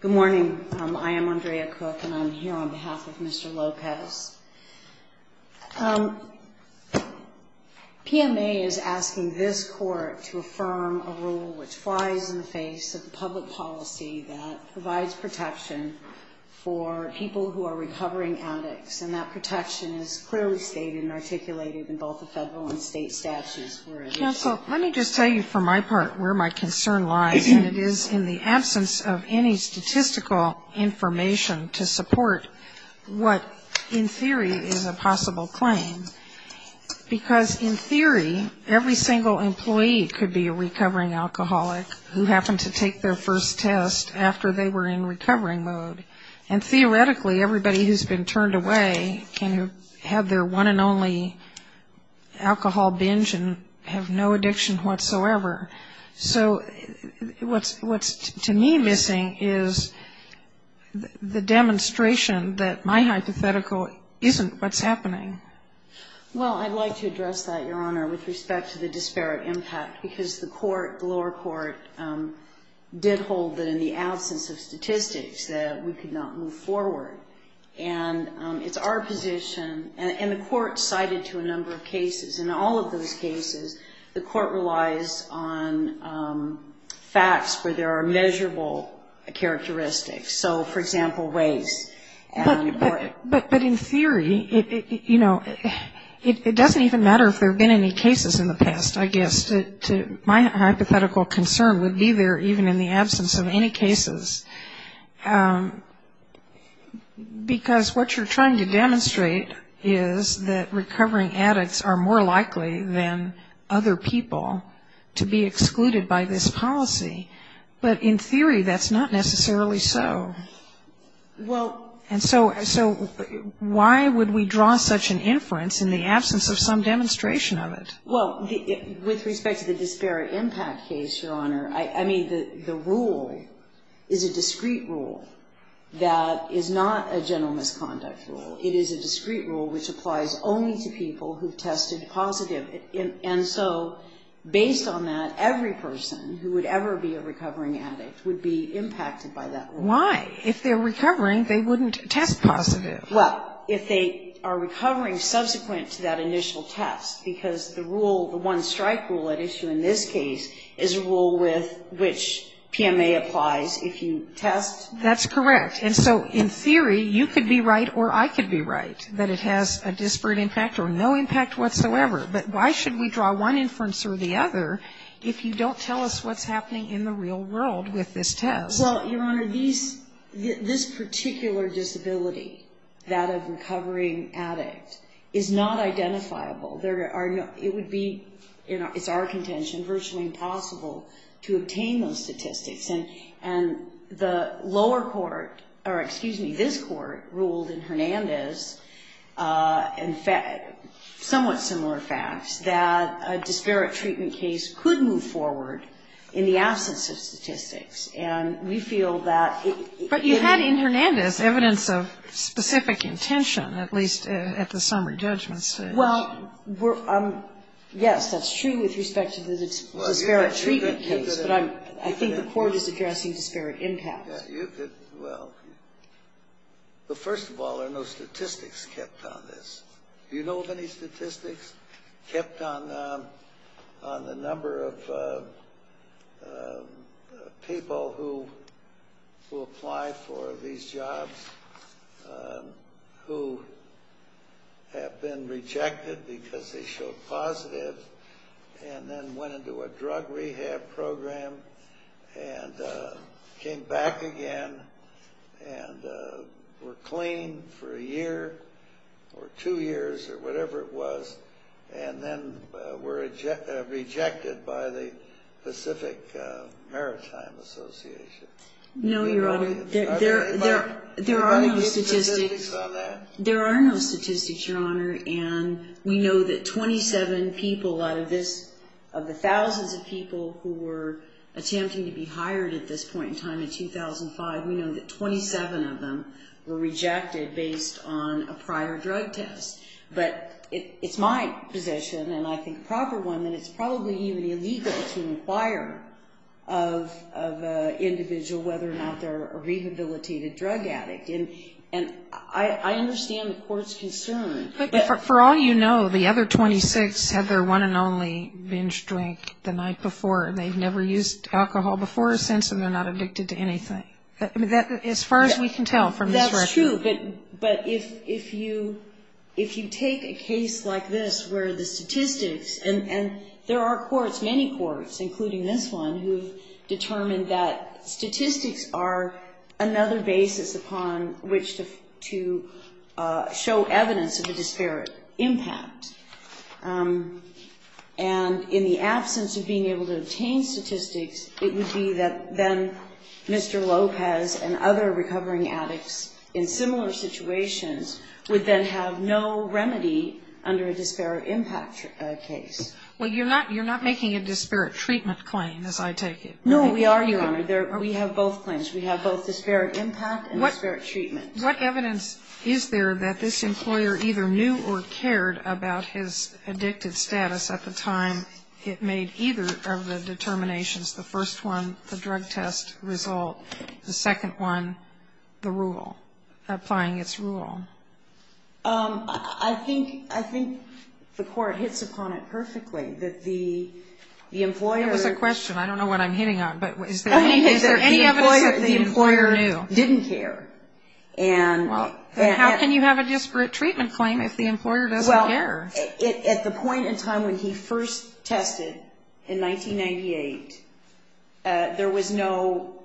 Good morning, I am Andrea Cook and I'm here on behalf of Mr. Lopez. PMA is asking this court to affirm a rule which flies in the face of the public policy that provides protection for people who are recovering addicts, and that protection is clearly stated and articulated in both the federal and state statutes. Counsel, let me just tell you for my part where my concern lies, and it is in the absence of any statistical information to support what, in theory, is a possible claim. Because in theory, every single employee could be a recovering alcoholic who happened to take their first test after they were in recovering mode. And theoretically, everybody who's been turned away can have their one and only alcohol binge and have no addiction whatsoever. So what's to me missing is the demonstration that my hypothetical isn't what's happening. Well, I'd like to address that, Your Honor, with respect to the disparate impact. Because the court, the lower court, did hold that in the absence of statistics that we could not move forward. And it's our position, and the court cited to a number of cases. In all of those cases, the court relies on facts where there are measurable characteristics. So, for example, waste. But in theory, you know, it doesn't even matter if there have been any cases in the past, I guess. My hypothetical concern would be there even in the absence of any cases. Because what you're trying to demonstrate is that recovering addicts are more likely than other people to be excluded by this policy. But in theory, that's not necessarily so. And so why would we draw such an inference in the absence of some demonstration of it? Well, with respect to the disparate impact case, Your Honor, I mean, the rule is a discrete rule that is not a general misconduct rule. It is a discrete rule which applies only to people who've tested positive. And so based on that, every person who would ever be a recovering addict would be impacted by that rule. Why? If they're recovering, they wouldn't test positive. Well, if they are recovering subsequent to that initial test, because the rule, the one-strike rule at issue in this case, is a rule with which PMA applies if you test. That's correct. And so in theory, you could be right or I could be right that it has a disparate impact or no impact whatsoever. But why should we draw one inference or the other if you don't tell us what's happening in the real world with this test? So, Your Honor, this particular disability, that of recovering addict, is not identifiable. It would be, it's our contention, virtually impossible to obtain those statistics. And the lower court or, excuse me, this court ruled in Hernandez and somewhat similar facts that a disparate treatment case could move forward in the absence of statistics. And we feel that it would be... But you had in Hernandez evidence of specific intention, at least at the summary judgment stage. Well, we're, yes, that's true with respect to the disparate treatment case. But I'm, I think the court is addressing disparate impact. You could, well, but first of all, there are no statistics kept on this. Do you know of any statistics kept on the number of people who apply for these jobs who have been rejected because they showed positive and then went into a drug rehab program and came back again and were clean for a year or two years or whatever it was and then were rejected by the Pacific Maritime Association? No, Your Honor. There are no statistics. There are no statistics, Your Honor, and we know that 27 people out of this, of the thousands of people who were attempting to be hired at this point in time in 2005, we know that 27 of them were rejected based on a prior drug test. But it's my position, and I think a proper one, that it's probably even illegal to inquire of an individual whether or not they're a rehabilitated drug addict. And I understand the court's concern. But for all you know, the other 26 had their one and only binge drink the night before, and they've never used alcohol before or since, and they're not addicted to anything. As far as we can tell from this record. That's true. But if you take a case like this where the statistics, and there are courts, many courts, including this one, who have determined that statistics are another basis upon which to show evidence of a disparate impact. And in the absence of being able to obtain statistics, it would be that then Mr. Lopez and other recovering addicts in similar situations would then have no remedy under a disparate impact case. Well, you're not making a disparate treatment claim, as I take it. No, we are, Your Honor. We have both claims. We have both disparate impact and disparate treatment. What evidence is there that this employer either knew or cared about his addictive status at the time it made either of the determinations, the first one the drug test result, the second one the rule, applying its rule? I think the court hits upon it perfectly, that the employer. That was a question. I don't know what I'm hitting on. Is there any evidence that the employer didn't care? How can you have a disparate treatment claim if the employer doesn't care? Well, at the point in time when he first tested in 1998, there was no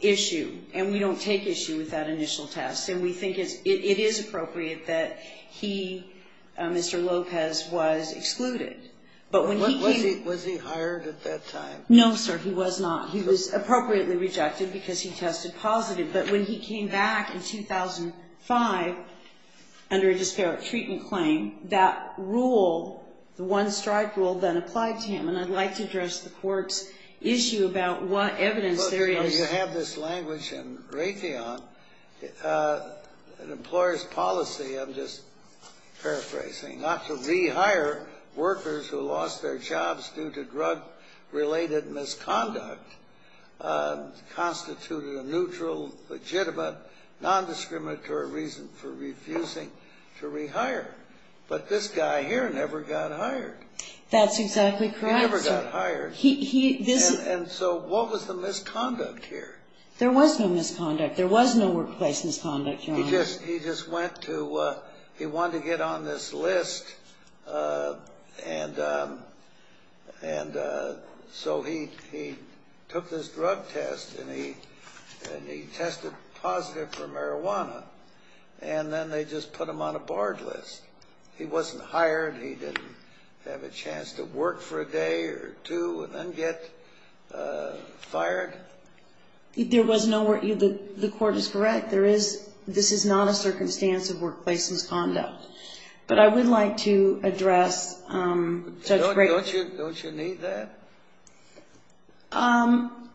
issue, and we don't take issue with that initial test, and we think it is appropriate that he, Mr. Lopez, was excluded. Was he hired at that time? No, sir, he was not. He was appropriately rejected because he tested positive, but when he came back in 2005 under a disparate treatment claim, that rule, the one-strike rule, then applied to him, and I'd like to address the court's issue about what evidence there is. Well, Your Honor, you have this language in Raytheon, an employer's policy. I'm just paraphrasing. Not to rehire workers who lost their jobs due to drug-related misconduct constituted a neutral, legitimate, nondiscriminatory reason for refusing to rehire. But this guy here never got hired. That's exactly correct, sir. He never got hired. And so what was the misconduct here? There was no workplace misconduct, Your Honor. He just went to, he wanted to get on this list, and so he took this drug test and he tested positive for marijuana, and then they just put him on a barred list. He wasn't hired. He didn't have a chance to work for a day or two and then get fired. There was no work. The court is correct. This is not a circumstance of workplace misconduct. But I would like to address Judge Gray. Don't you need that?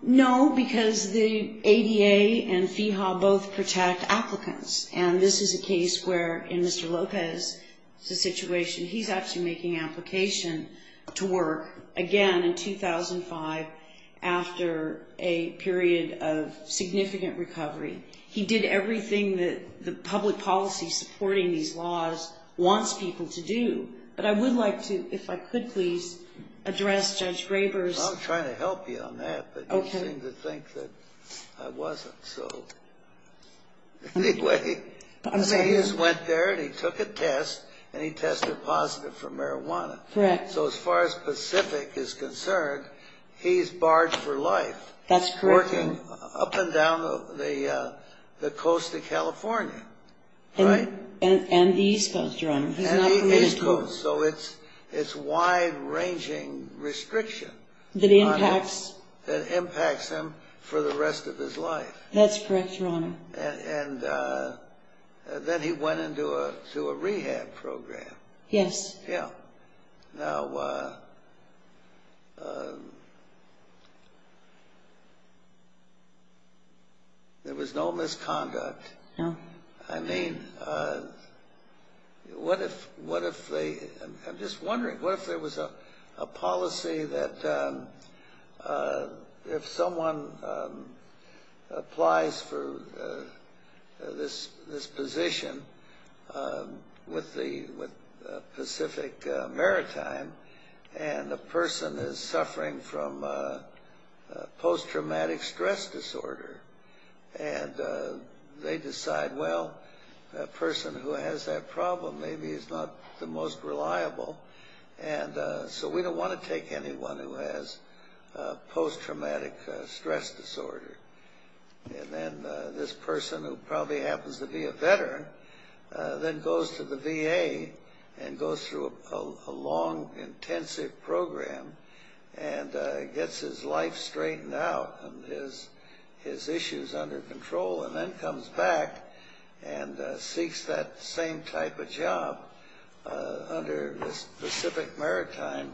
No, because the ADA and FEHA both protect applicants, and this is a case where, in Mr. Lopez's situation, he's actually making application to work again in 2005 after a period of significant recovery. He did everything that the public policy supporting these laws wants people to do. But I would like to, if I could please, address Judge Graber's ---- I'm trying to help you on that, but you seem to think that I wasn't. So anyway, he just went there and he took a test, and he tested positive for marijuana. Correct. So as far as Pacific is concerned, he's barred for life. That's correct. He's working up and down the coast of California, right? And the East Coast, Your Honor. And the East Coast. So it's wide-ranging restriction that impacts him for the rest of his life. That's correct, Your Honor. And then he went into a rehab program. Yes. Yeah. Now, there was no misconduct. No. I mean, what if they ---- I'm just wondering, what if there was a policy that if someone applies for this position with Pacific Maritime and the person is suffering from post-traumatic stress disorder, and they decide, well, that person who has that problem, maybe he's not the most reliable, and so we don't want to take anyone who has post-traumatic stress disorder. And then this person, who probably happens to be a veteran, then goes to the VA and goes through a long, intensive program and gets his life straightened out and his issues under control and then comes back and seeks that same type of job under Pacific Maritime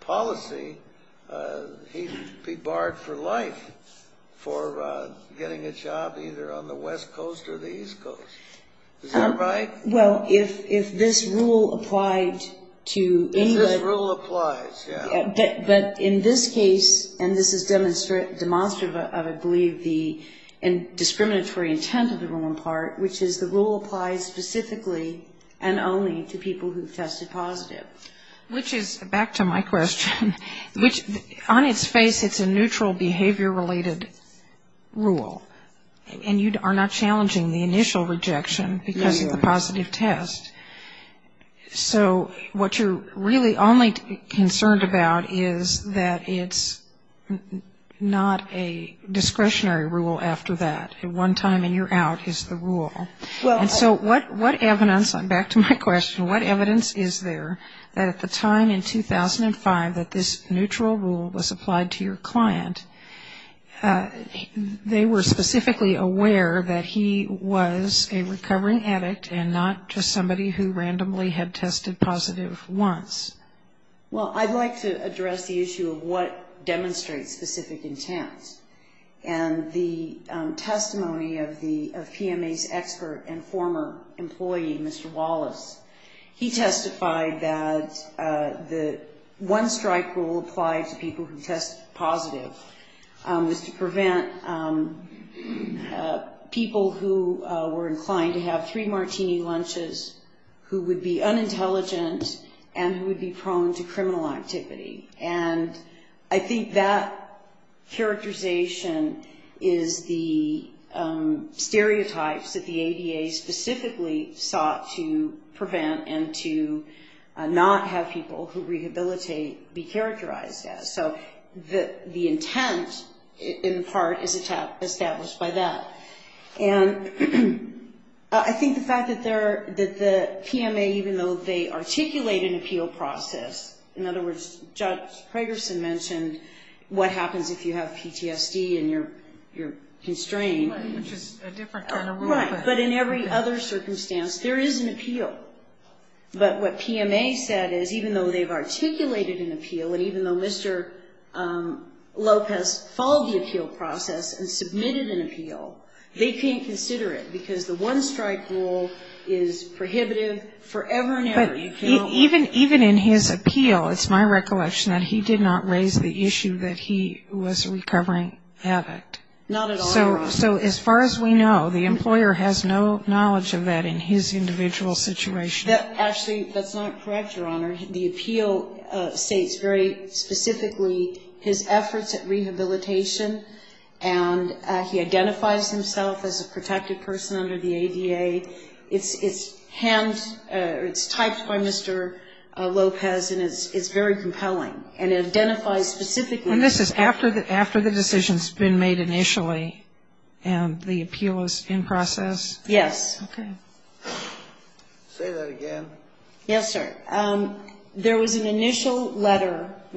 policy, he'd be barred for life for getting a job either on the West Coast or the East Coast. Is that right? Well, if this rule applied to anyone ---- If this rule applies, yeah. But in this case, and this is demonstrative of, I believe, the discriminatory intent of the rule in part, which is the rule applies specifically and only to people who have tested positive. Which is, back to my question, on its face it's a neutral behavior-related rule, and you are not challenging the initial rejection because of the positive test. So what you're really only concerned about is that it's not a discretionary rule after that. One time and you're out is the rule. And so what evidence, back to my question, what evidence is there that at the time in 2005 that this neutral rule was applied to your client, they were specifically aware that he was a recovering addict and not just somebody who randomly had tested positive once? Well, I'd like to address the issue of what demonstrates specific intent. And the testimony of PMA's expert and former employee, Mr. Wallace, he testified that the one-strike rule applied to people who tested positive was to prevent people who were inclined to have three martini lunches, who would be unintelligent and who would be prone to criminal activity. And I think that characterization is the stereotypes that the ADA specifically sought to prevent and to not have people who rehabilitate be characterized as. So the intent in part is established by that. And I think the fact that the PMA, even though they articulate an appeal process, in other words, Judge Pragerson mentioned what happens if you have PTSD and you're constrained. Which is a different kind of rule. Right. But in every other circumstance, there is an appeal. But what PMA said is even though they've articulated an appeal and even though Mr. Lopez followed the appeal process and submitted an appeal, they can't consider it because the one-strike rule is prohibitive forever and ever. Even in his appeal, it's my recollection that he did not raise the issue that he was a recovering addict. Not at all, Your Honor. So as far as we know, the employer has no knowledge of that in his individual situation. Actually, that's not correct, Your Honor. The appeal states very specifically his efforts at rehabilitation and he identifies himself as a protected person under the ADA. It's typed by Mr. Lopez and it's very compelling. And it identifies specifically... And this is after the decision's been made initially and the appeal is in process? Yes. Say that again. Yes, sir. There was an initial letter in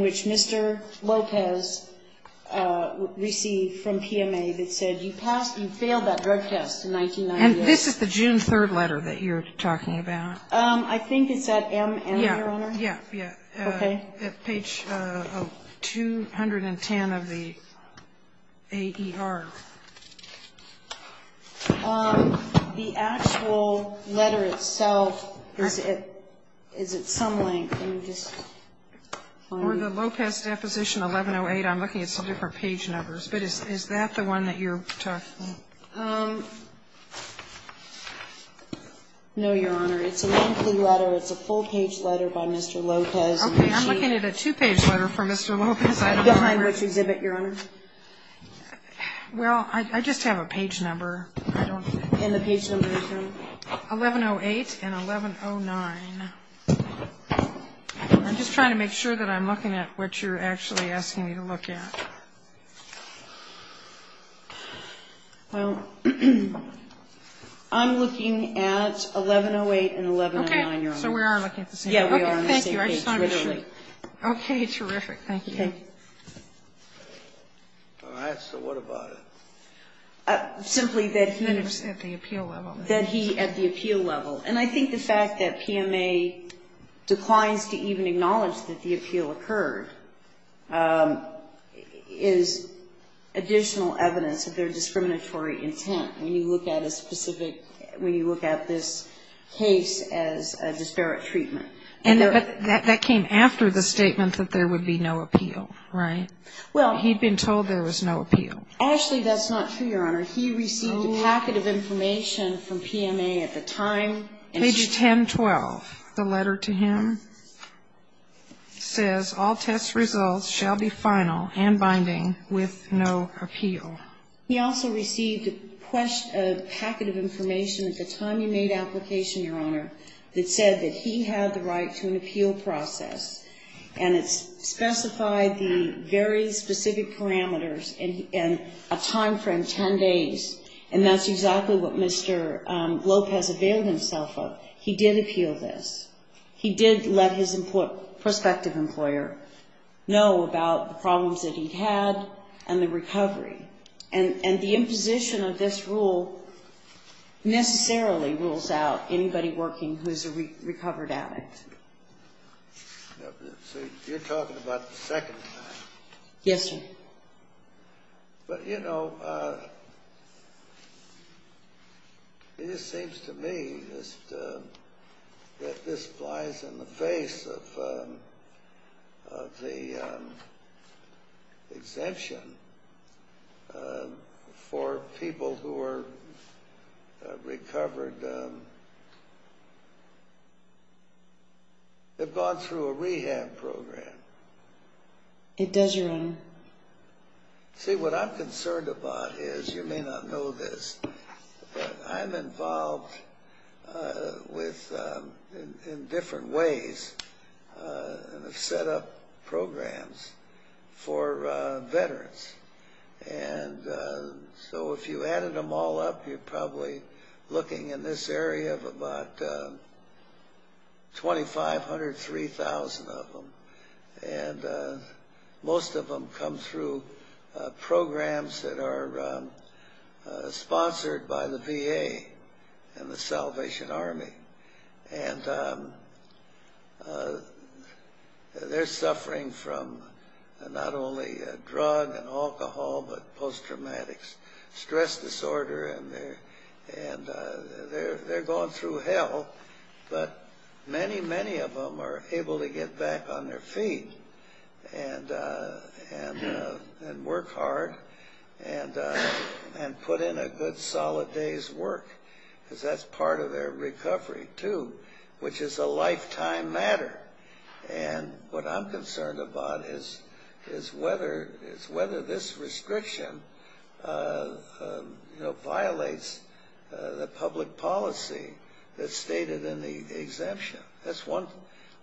which Mr. Lopez received from PMA that said you passed or you failed that drug test in 1996. And this is the June 3rd letter that you're talking about? I think it's at M&M, Your Honor. Yeah, yeah. Okay. Page 210 of the AER. The actual letter itself is at some length. Or the Lopez deposition, 1108. I'm looking at some different page numbers. But is that the one that you're talking about? No, Your Honor. It's a lengthy letter. It's a full-page letter by Mr. Lopez. Okay. I'm looking at a two-page letter from Mr. Lopez. Behind which exhibit, Your Honor? Well, I just have a page number. And the page number is from? 1108 and 1109. I'm just trying to make sure that I'm looking at what you're actually asking me to look at. Well, I'm looking at 1108 and 1109, Your Honor. Okay. So we are looking at the same page. Yeah, we are on the same page, literally. Okay, terrific. Thank you. All right. So what about it? Simply that he was at the appeal level. That he at the appeal level. And I think the fact that PMA declines to even acknowledge that the appeal occurred is additional evidence of their discriminatory intent. When you look at a specific, when you look at this case as a disparate treatment. That came after the statement that there would be no appeal, right? Well. He'd been told there was no appeal. Actually, that's not true, Your Honor. He received a packet of information from PMA at the time. Page 1012. The letter to him says, all test results shall be final and binding with no appeal. He also received a packet of information at the time he made application, Your Honor, that said that he had the right to an appeal process. And it specified the very specific parameters and a time frame, 10 days. And that's exactly what Mr. Lopez availed himself of. He did appeal this. He did let his prospective employer know about the problems that he'd had and the recovery. And the imposition of this rule necessarily rules out anybody working who is a recovered addict. You're talking about the second time. Yes, sir. But, you know, it just seems to me that this flies in the face of the exemption. For people who are recovered, they've gone through a rehab program. It does, Your Honor. See, what I'm concerned about is, you may not know this, but I'm involved in different ways and have set up programs for veterans. And so if you added them all up, you're probably looking in this area of about 2,500, 3,000 of them. And most of them come through programs that are sponsored by the VA and the Salvation Army. And they're suffering from not only a drug and alcohol, but post-traumatic stress disorder. And they're going through hell, but many, many of them are able to get back on their feet and work hard and put in a good solid day's work because that's part of their recovery too, which is a lifetime matter. And what I'm concerned about is whether this restriction violates the public policy that's stated in the exemption. That's one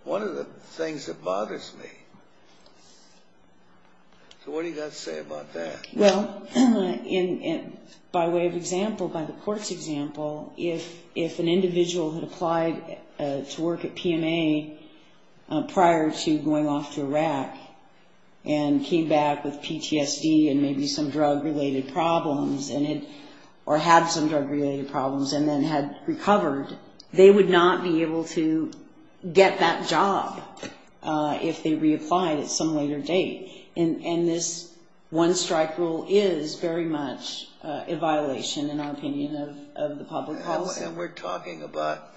of the things that bothers me. So what do you guys say about that? Well, by way of example, by the court's example, if an individual had applied to work at PMA prior to going off to Iraq and came back with PTSD and maybe some drug-related problems or had some drug-related problems and then had recovered, they would not be able to get that job if they reapplied at some later date. And this one-strike rule is very much a violation, in our opinion, of the public policy. And we're talking about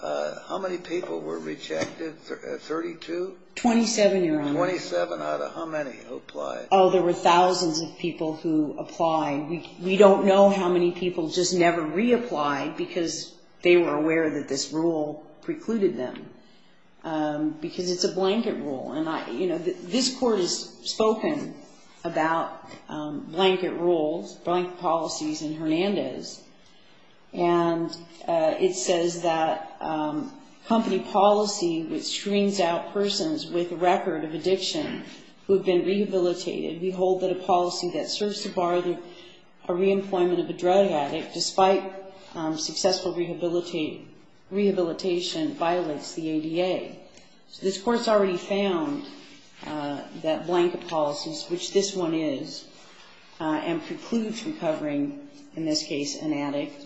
how many people were rejected? Thirty-two? Twenty-seven, Your Honor. Twenty-seven out of how many who applied? Oh, there were thousands of people who applied. We don't know how many people just never reapplied because they were aware that this rule precluded them because it's a blanket rule. And, you know, this Court has spoken about blanket rules, blanket policies in Hernandez. And it says that company policy which screens out persons with a record of addiction who have been rehabilitated, we hold that a policy that serves to bar the reemployment of a drug addict, despite successful rehabilitation, violates the ADA. So this Court's already found that blanket policies, which this one is, and precludes recovering, in this case, an addict,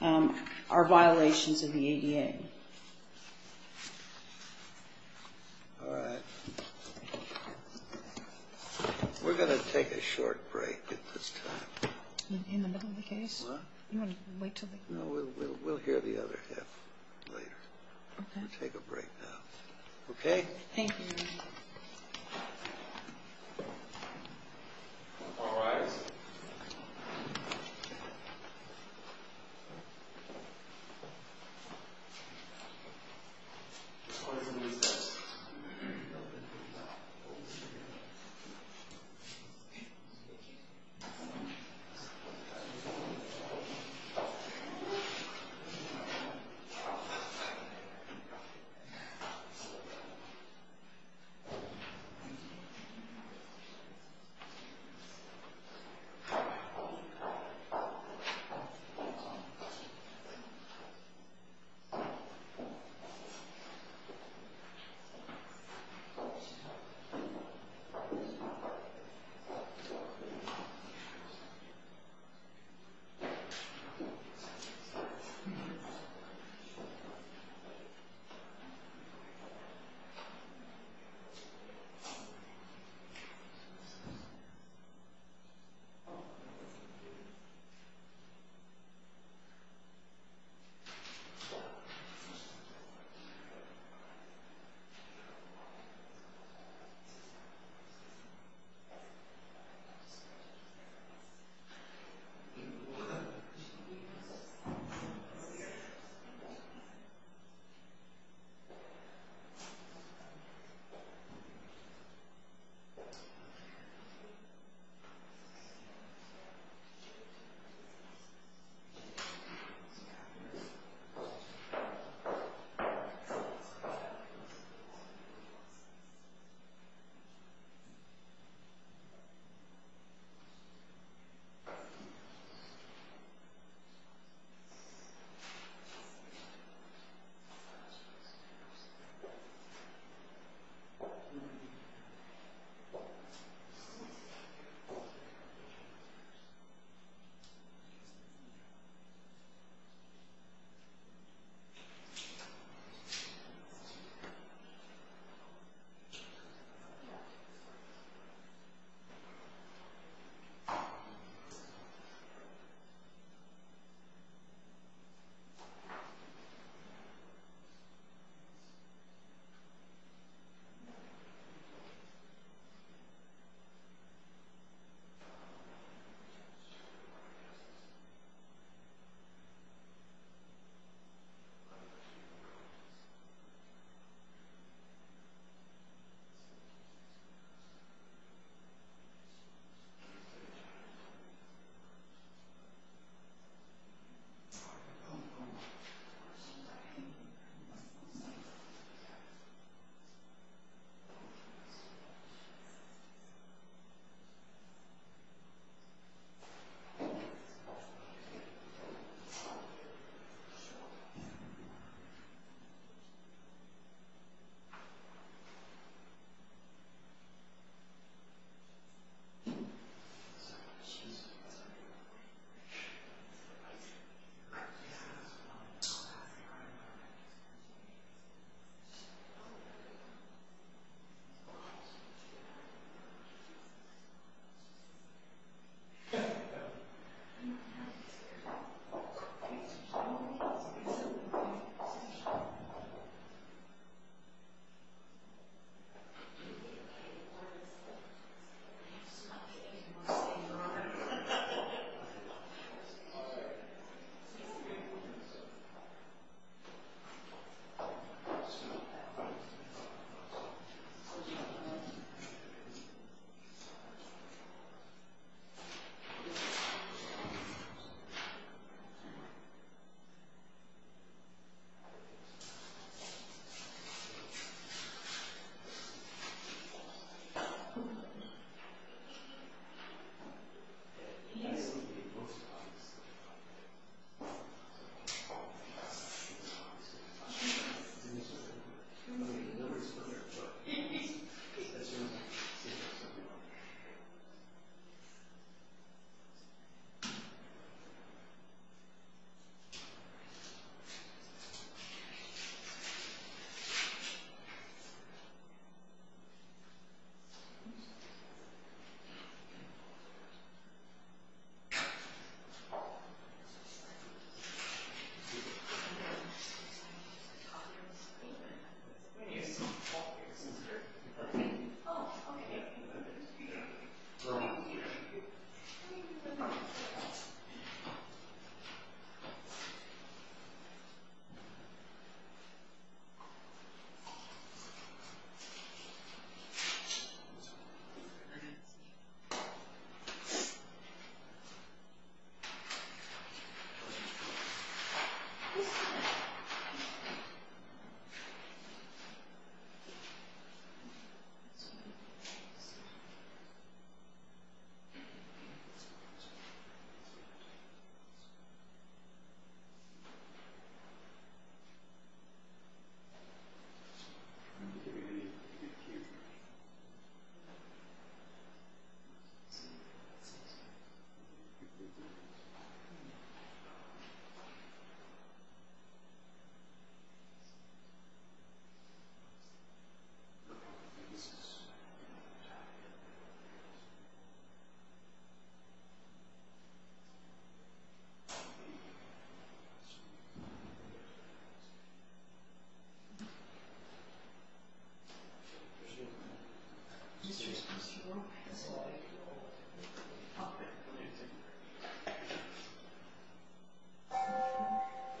are violations of the ADA. All right. We're going to take a short break at this time. In the middle of the case? What? You want to wait until the end? No, we'll hear the other half later. Okay. We're going to take a break now. Okay? All rise. All rise.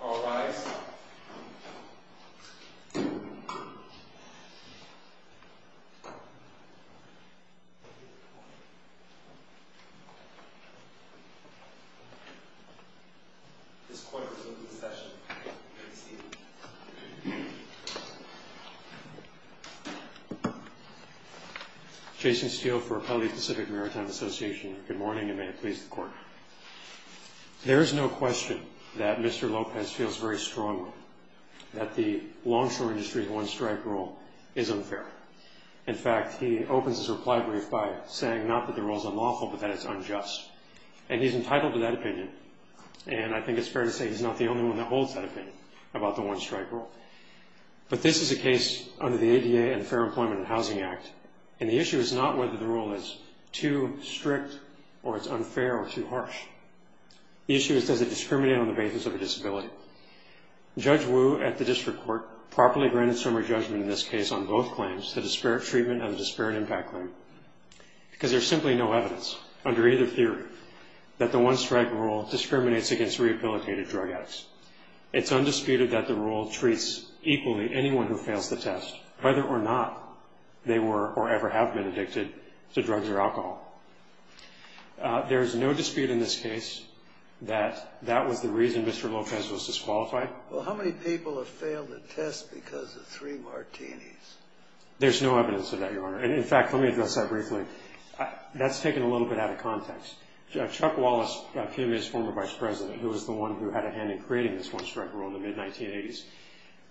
All rise. All rise. All rise. All rise. All rise. All rise. All rise. All rise. All rise. All rise. All rise. All rise. All rise. This Court is now in session. Good evening. Jason Steele for Appellee Pacific Maritime Association. There is no question that Mr. Lopez feels very strongly that the longshore industry one-strike rule is unfair. In fact, he opens his reply brief by saying not that the rule is unlawful, but that it's unjust. And he's entitled to that opinion. And I think it's fair to say he's not the only one that holds that opinion about the one-strike rule. But this is a case under the ADA and the Fair Employment and Housing Act. And the issue is not whether the rule is too strict or it's unfair or too harsh. The issue is does it discriminate on the basis of a disability. Judge Wu at the district court properly granted summary judgment in this case on both claims, the disparate treatment and the disparate impact claim, because there's simply no evidence under either theory that the one-strike rule discriminates against rehabilitated drug addicts. It's undisputed that the rule treats equally anyone who fails the test, whether or not they were or ever have been addicted to drugs or alcohol. There is no dispute in this case that that was the reason Mr. Lopez was disqualified. Well, how many people have failed the test because of three martinis? There's no evidence of that, Your Honor. And, in fact, let me address that briefly. That's taken a little bit out of context. Chuck Wallace, CUNY's former vice president, who was the one who had a hand in creating this one-strike rule in the mid-1980s,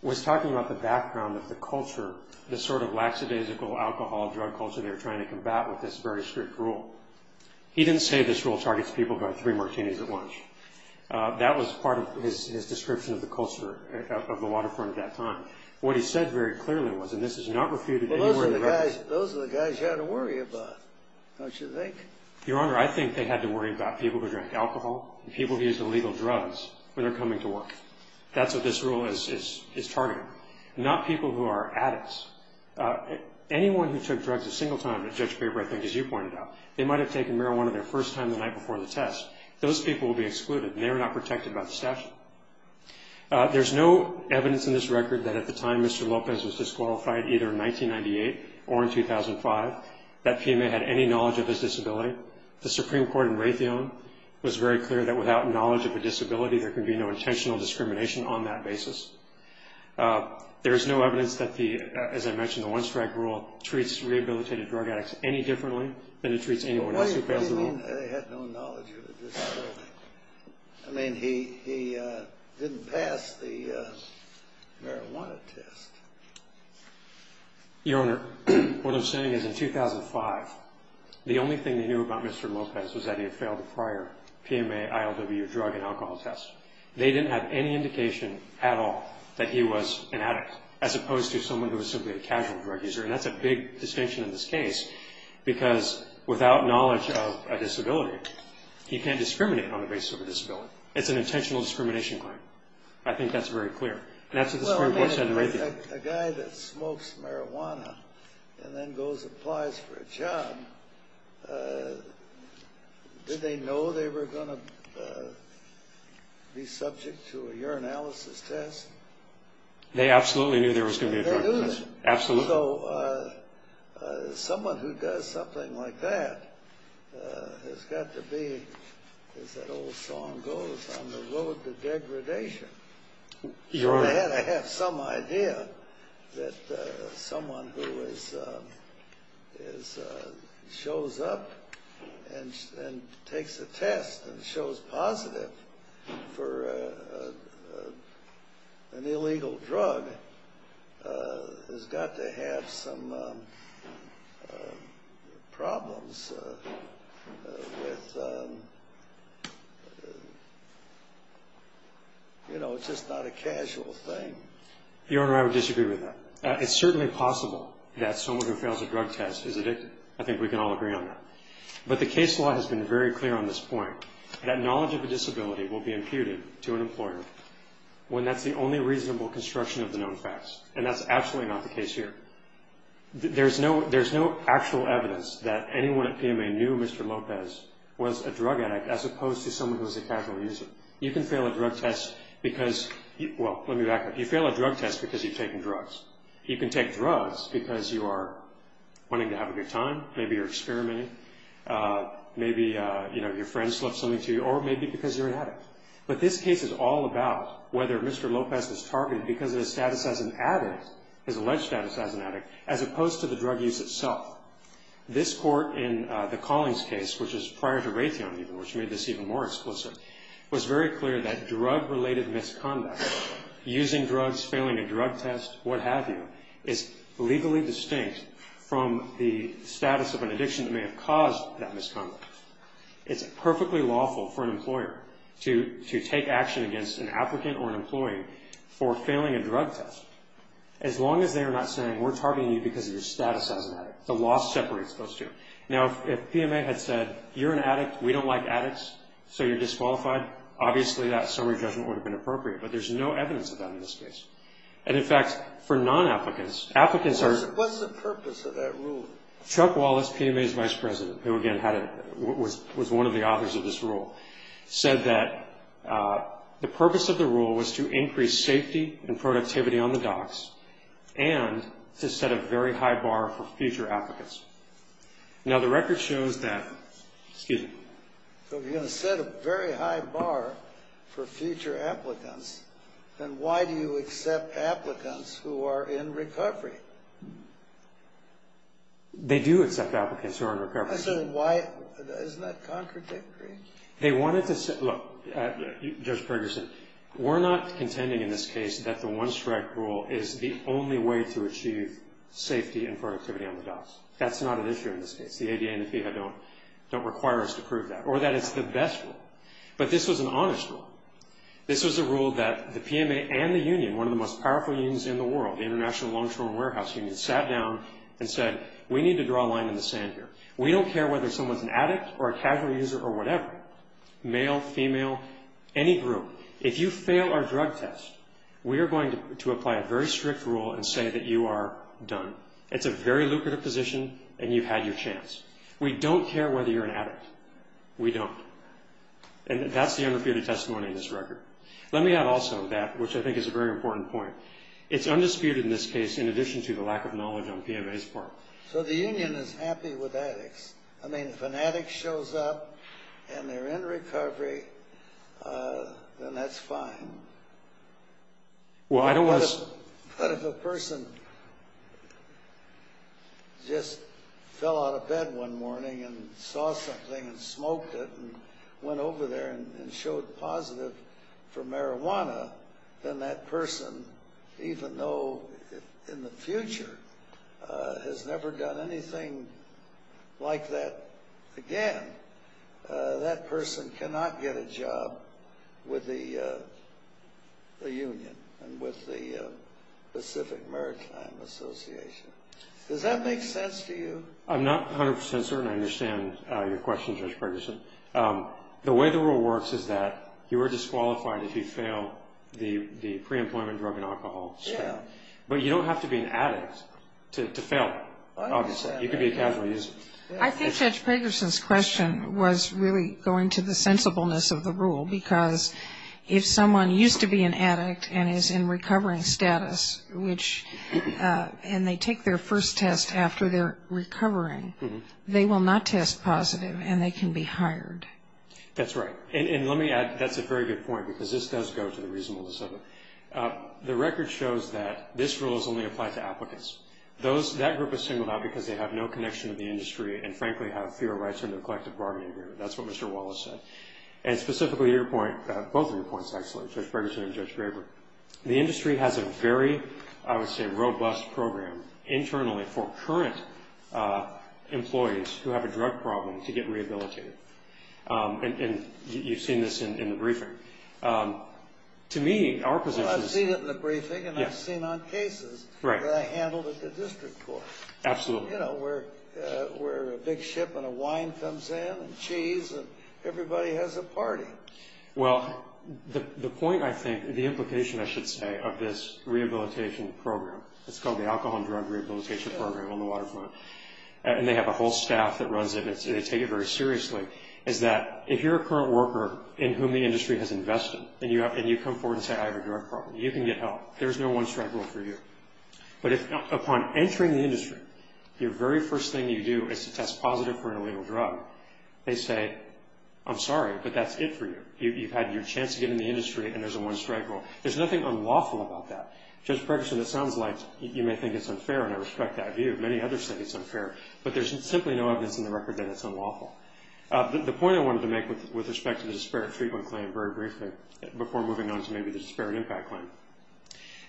was talking about the background of the culture, the sort of lackadaisical alcohol drug culture they were trying to combat with this very strict rule. He didn't say this rule targets people who have three martinis at lunch. That was part of his description of the culture of the waterfront at that time. What he said very clearly was, and this is not refuted anywhere in the record. Well, those are the guys you had to worry about, don't you think? Your Honor, I think they had to worry about people who drank alcohol and people who used illegal drugs when they're coming to work. That's what this rule is targeting. Not people who are addicts. Anyone who took drugs a single time at a judge's paper, I think, as you pointed out, they might have taken marijuana their first time the night before the test. Those people will be excluded, and they are not protected by the statute. There's no evidence in this record that at the time Mr. Lopez was disqualified, either in 1998 or in 2005, that PMA had any knowledge of his disability. The Supreme Court in Raytheon was very clear that without knowledge of a disability, there can be no intentional discrimination on that basis. There is no evidence that, as I mentioned, the one-strike rule treats rehabilitated drug addicts any differently than it treats anyone else who fails the rule. What do you mean they had no knowledge of a disability? I mean, he didn't pass the marijuana test. Your Honor, what I'm saying is in 2005, the only thing they knew about Mr. Lopez was that he had failed a prior PMA, ILWU drug and alcohol test. They didn't have any indication at all that he was an addict, as opposed to someone who was simply a casual drug user, and that's a big distinction in this case because without knowledge of a disability, he can't discriminate on the basis of a disability. It's an intentional discrimination claim. I think that's very clear, and that's what the Supreme Court said in Raytheon. A guy that smokes marijuana and then goes and applies for a job, did they know they were going to be subject to a urinalysis test? They absolutely knew there was going to be a drug test. They knew that. Absolutely. So someone who does something like that has got to be, as that old song goes, on the road to degradation. Your Honor. They had to have some idea that someone who shows up and takes a test and shows positive for an illegal drug has got to have some problems with, you know, it's just not a casual thing. Your Honor, I would disagree with that. It's certainly possible that someone who fails a drug test is addicted. I think we can all agree on that. But the case law has been very clear on this point, that knowledge of a disability will be imputed to an employer when that's the only reasonable construction of the known facts, and that's absolutely not the case here. There's no actual evidence that anyone at PMA knew Mr. Lopez was a drug addict as opposed to someone who was a casual user. You can fail a drug test because you've taken drugs. You can take drugs because you are wanting to have a good time, maybe you're experimenting, maybe your friends left something to you, or maybe because you're an addict. But this case is all about whether Mr. Lopez was targeted because of his status as an addict, his alleged status as an addict, as opposed to the drug use itself. This court in the Collings case, which was prior to Raytheon even, which made this even more explicit, was very clear that drug-related misconduct, using drugs, failing a drug test, what have you, is legally distinct from the status of an addiction that may have caused that misconduct. It's perfectly lawful for an employer to take action against an applicant or an employee for failing a drug test, as long as they are not saying, we're targeting you because of your status as an addict. The law separates those two. Now, if PMA had said, you're an addict, we don't like addicts, so you're disqualified, obviously that summary judgment would have been appropriate. But there's no evidence of that in this case. And, in fact, for non-applicants, applicants are... What's the purpose of that rule? Chuck Wallace, PMA's vice president, who, again, was one of the authors of this rule, said that the purpose of the rule was to increase safety and productivity on the docks and to set a very high bar for future applicants. Now, the record shows that... Excuse me. So if you're going to set a very high bar for future applicants, then why do you accept applicants who are in recovery? They do accept applicants who are in recovery. Isn't that contradictory? They wanted to say... Look, Judge Ferguson, we're not contending in this case that the one-strike rule is the only way to achieve safety and productivity on the docks. That's not an issue in this case. The ADA and the FEHA don't require us to prove that. Or that it's the best rule. But this was an honest rule. This was a rule that the PMA and the union, one of the most powerful unions in the world, the International Long-Term Warehouse Union, sat down and said, we need to draw a line in the sand here. We don't care whether someone's an addict or a casual user or whatever, male, female, any group. If you fail our drug test, we are going to apply a very strict rule and say that you are done. It's a very lucrative position, and you've had your chance. We don't care whether you're an addict. We don't. And that's the undisputed testimony in this record. Let me add also that, which I think is a very important point, it's undisputed in this case, in addition to the lack of knowledge on PMA's part. So the union is happy with addicts. I mean, if an addict shows up and they're in recovery, then that's fine. But if a person just fell out of bed one morning and saw something and smoked it and went over there and showed positive for marijuana, then that person, even though in the future has never done anything like that again, that person cannot get a job with the union and with the Pacific Maritime Association. Does that make sense to you? I'm not 100 percent certain I understand your question, Judge Pagerson. The way the rule works is that you are disqualified if you fail the pre-employment drug and alcohol spell. But you don't have to be an addict to fail it, obviously. You could be a casual user. I think Judge Pagerson's question was really going to the sensibleness of the rule, because if someone used to be an addict and is in recovering status, and they take their first test after they're recovering, they will not test positive and they can be hired. That's right. And let me add, that's a very good point, because this does go to the reasonableness of it. The record shows that this rule is only applied to applicants. That group is singled out because they have no connection to the industry and, frankly, have fewer rights under the collective bargaining agreement. That's what Mr. Wallace said. And specifically your point, both of your points, actually, Judge Pagerson and Judge Graber, the industry has a very, I would say, robust program internally for current employees who have a drug problem to get rehabilitated. And you've seen this in the briefing. To me, our position is – Well, I've seen it in the briefing and I've seen it on cases that I handled at the district court. Absolutely. You know, where a big shipment of wine comes in and cheese and everybody has a party. Well, the point, I think, the implication, I should say, of this rehabilitation program, it's called the Alcohol and Drug Rehabilitation Program on the Waterfront, and they have a whole staff that runs it and they take it very seriously, is that if you're a current worker in whom the industry has invested and you come forward and say, I have a drug problem, you can get help. There's no one-strike rule for you. But upon entering the industry, your very first thing you do is to test positive for an illegal drug. They say, I'm sorry, but that's it for you. You've had your chance to get in the industry and there's a one-strike rule. There's nothing unlawful about that. Judge Pregerson, it sounds like you may think it's unfair, and I respect that view. Many others think it's unfair, but there's simply no evidence in the record that it's unlawful. The point I wanted to make with respect to the disparate treatment claim very briefly, before moving on to maybe the disparate impact claim,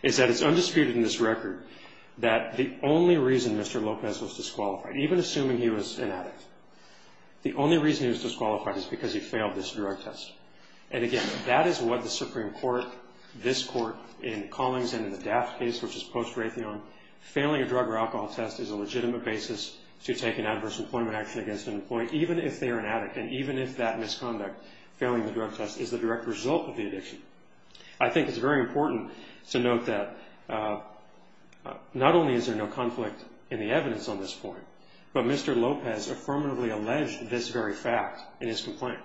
is that it's undisputed in this record that the only reason Mr. Lopez was disqualified, even assuming he was an addict, the only reason he was disqualified is because he failed this drug test. And again, that is what the Supreme Court, this Court, in Collings and in the Daft case, which is post-Raytheon, failing a drug or alcohol test is a legitimate basis to take an adverse employment action against an employee, even if they are an addict, and even if that misconduct, failing the drug test, is the direct result of the addiction. I think it's very important to note that not only is there no conflict in the evidence on this point, but Mr. Lopez affirmatively alleged this very fact in his complaint.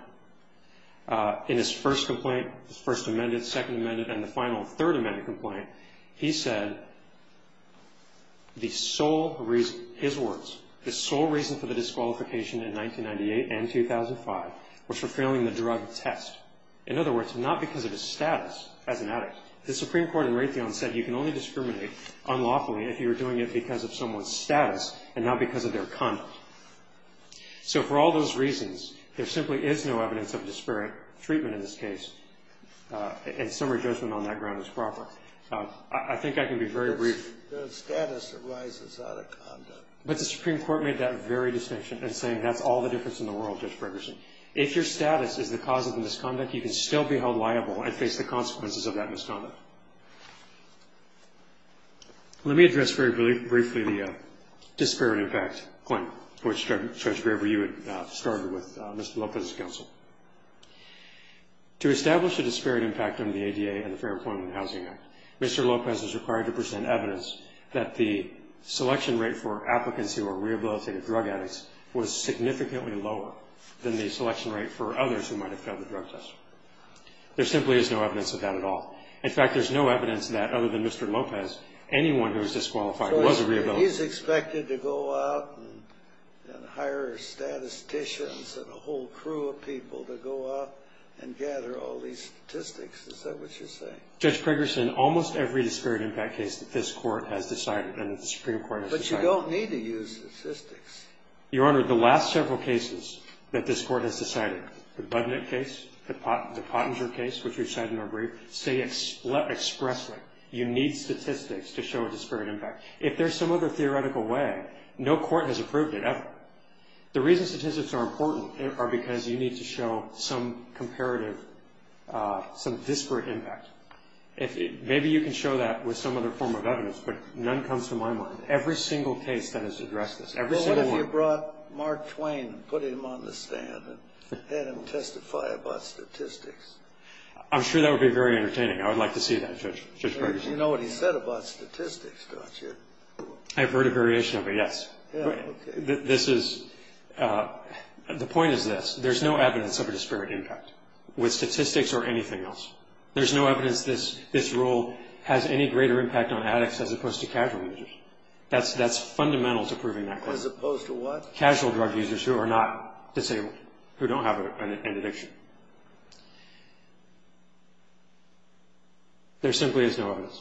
In his first complaint, his First Amendment, Second Amendment, and the final Third Amendment complaint, he said the sole reason, his words, the sole reason for the disqualification in 1998 and 2005 was for failing the drug test. In other words, not because of his status as an addict. The Supreme Court in Raytheon said you can only discriminate unlawfully if you are doing it because of someone's status and not because of their conduct. So for all those reasons, there simply is no evidence of disparate treatment in this case, and summary judgment on that ground is proper. I think I can be very brief. The status arises out of conduct. But the Supreme Court made that very distinction in saying that's all the difference in the world, Judge Ferguson. If your status is the cause of the misconduct, you can still be held liable and face the consequences of that misconduct. Let me address very briefly the disparate impact point, which, Judge Graber, you had started with Mr. Lopez's counsel. To establish a disparate impact on the ADA and the Fair Employment and Housing Act, Mr. Lopez is required to present evidence that the selection rate for applicants who are rehabilitative drug addicts was significantly lower than the selection rate for others who might have failed the drug test. There simply is no evidence of that at all. In fact, there's no evidence that, other than Mr. Lopez, anyone who is disqualified was a rehabilitative addict. So he's expected to go out and hire statisticians and a whole crew of people to go out and gather all these statistics. Is that what you're saying? Judge Ferguson, almost every disparate impact case that this Court has decided and that the Supreme Court has decided. But you don't need to use statistics. Your Honor, the last several cases that this Court has decided, the Budnick case, the Pottinger case, which we've cited in our brief, say expressly you need statistics to show a disparate impact. If there's some other theoretical way, no court has approved it ever. The reason statistics are important are because you need to show some comparative, some disparate impact. Maybe you can show that with some other form of evidence, but none comes to my mind. Every single case that has addressed this, every single one. Well, what if you brought Mark Twain and put him on the stand and had him testify about statistics? I'm sure that would be very entertaining. I would like to see that, Judge Ferguson. You know what he said about statistics, don't you? I've heard a variation of it, yes. The point is this. There's no evidence of a disparate impact with statistics or anything else. There's no evidence this rule has any greater impact on addicts as opposed to casual users. That's fundamental to proving that claim. As opposed to what? Casual drug users who are not disabled, who don't have an addiction. There simply is no evidence.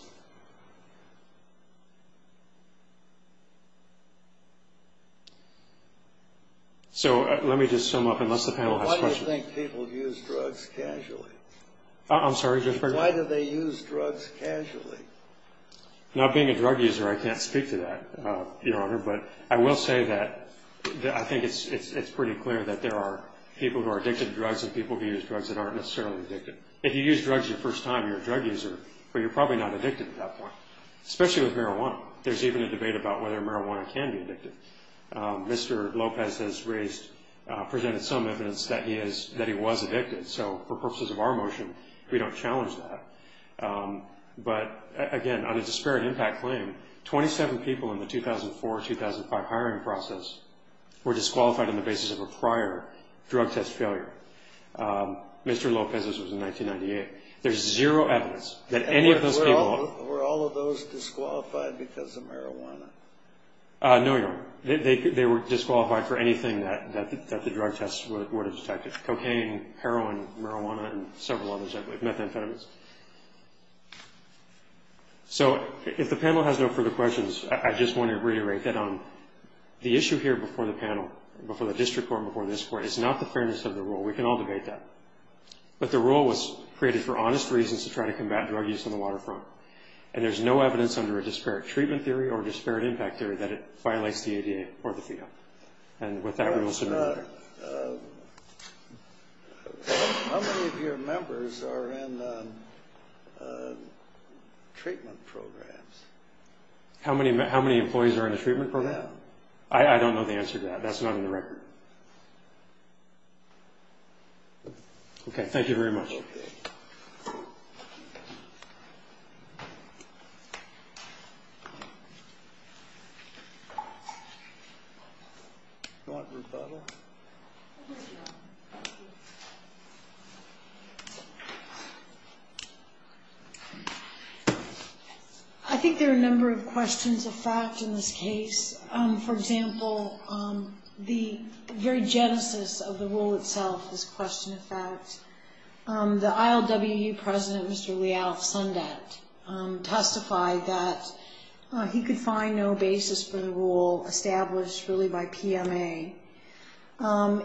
So let me just sum up, unless the panel has questions. Why do you think people use drugs casually? I'm sorry, Judge Ferguson? Why do they use drugs casually? Now, being a drug user, I can't speak to that, Your Honor. But I will say that I think it's pretty clear that there are people who are addicted to drugs and people who use drugs that aren't necessarily addicted. If you use drugs your first time, you're a drug user, but you're probably not addicted at that point, especially with marijuana. There's even a debate about whether marijuana can be addictive. Mr. Lopez has presented some evidence that he was addicted. So for purposes of our motion, we don't challenge that. But, again, on a disparate impact claim, 27 people in the 2004-2005 hiring process were disqualified on the basis of a prior drug test failure. Mr. Lopez's was in 1998. There's zero evidence that any of those people... Were all of those disqualified because of marijuana? No, Your Honor. They were disqualified for anything that the drug tests would have detected, cocaine, heroin, marijuana, and several others, methamphetamines. So if the panel has no further questions, I just want to reiterate that the issue here before the panel, before the district court and before this court, is not the fairness of the rule. We can all debate that. But the rule was created for honest reasons to try to combat drug use on the waterfront. And there's no evidence under a disparate treatment theory or a disparate impact theory that it violates the ADA or the FEDA. And with that rule submitted... How many of your members are in treatment programs? How many employees are in a treatment program? I don't know the answer to that. That's not in the record. Okay. Thank you very much. I think there are a number of questions of fact in this case. For example, the very genesis of the rule itself is question of fact. The ILWU president, Mr. Leal Sundet, testified that he could find no basis for the rule established really by PMA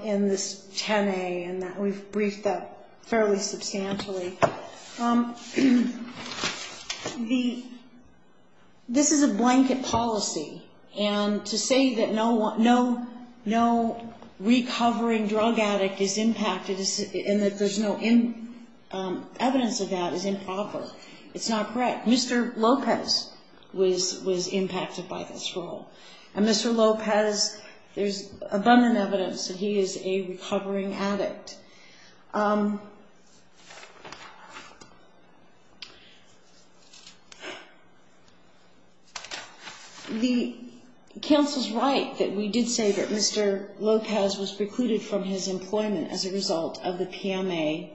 in this 10A, and we've briefed that fairly substantially. This is a blanket policy. And to say that no recovering drug addict is impacted and that there's no evidence of that is improper. It's not correct. Mr. Lopez was impacted by this rule. And Mr. Lopez, there's abundant evidence that he is a recovering addict. The counsel's right that we did say that Mr. Lopez was precluded from his employment as a result of the PMA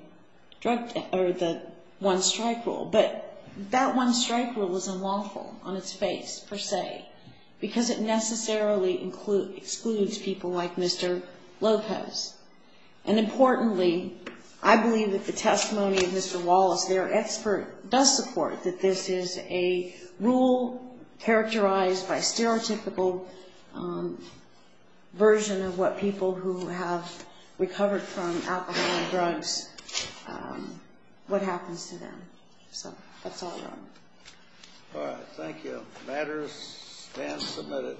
one-strike rule. But that one-strike rule is unlawful on its face, per se, because it necessarily excludes people like Mr. Lopez. And importantly, I believe that the testimony of Mr. Wallace, their expert, does support that this is a rule characterized by stereotypical version of what people who have recovered from alcohol and drugs, what happens to them. So that's all I have. All right. Thank you. The matter stands submitted.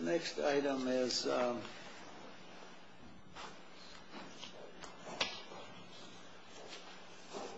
The next item is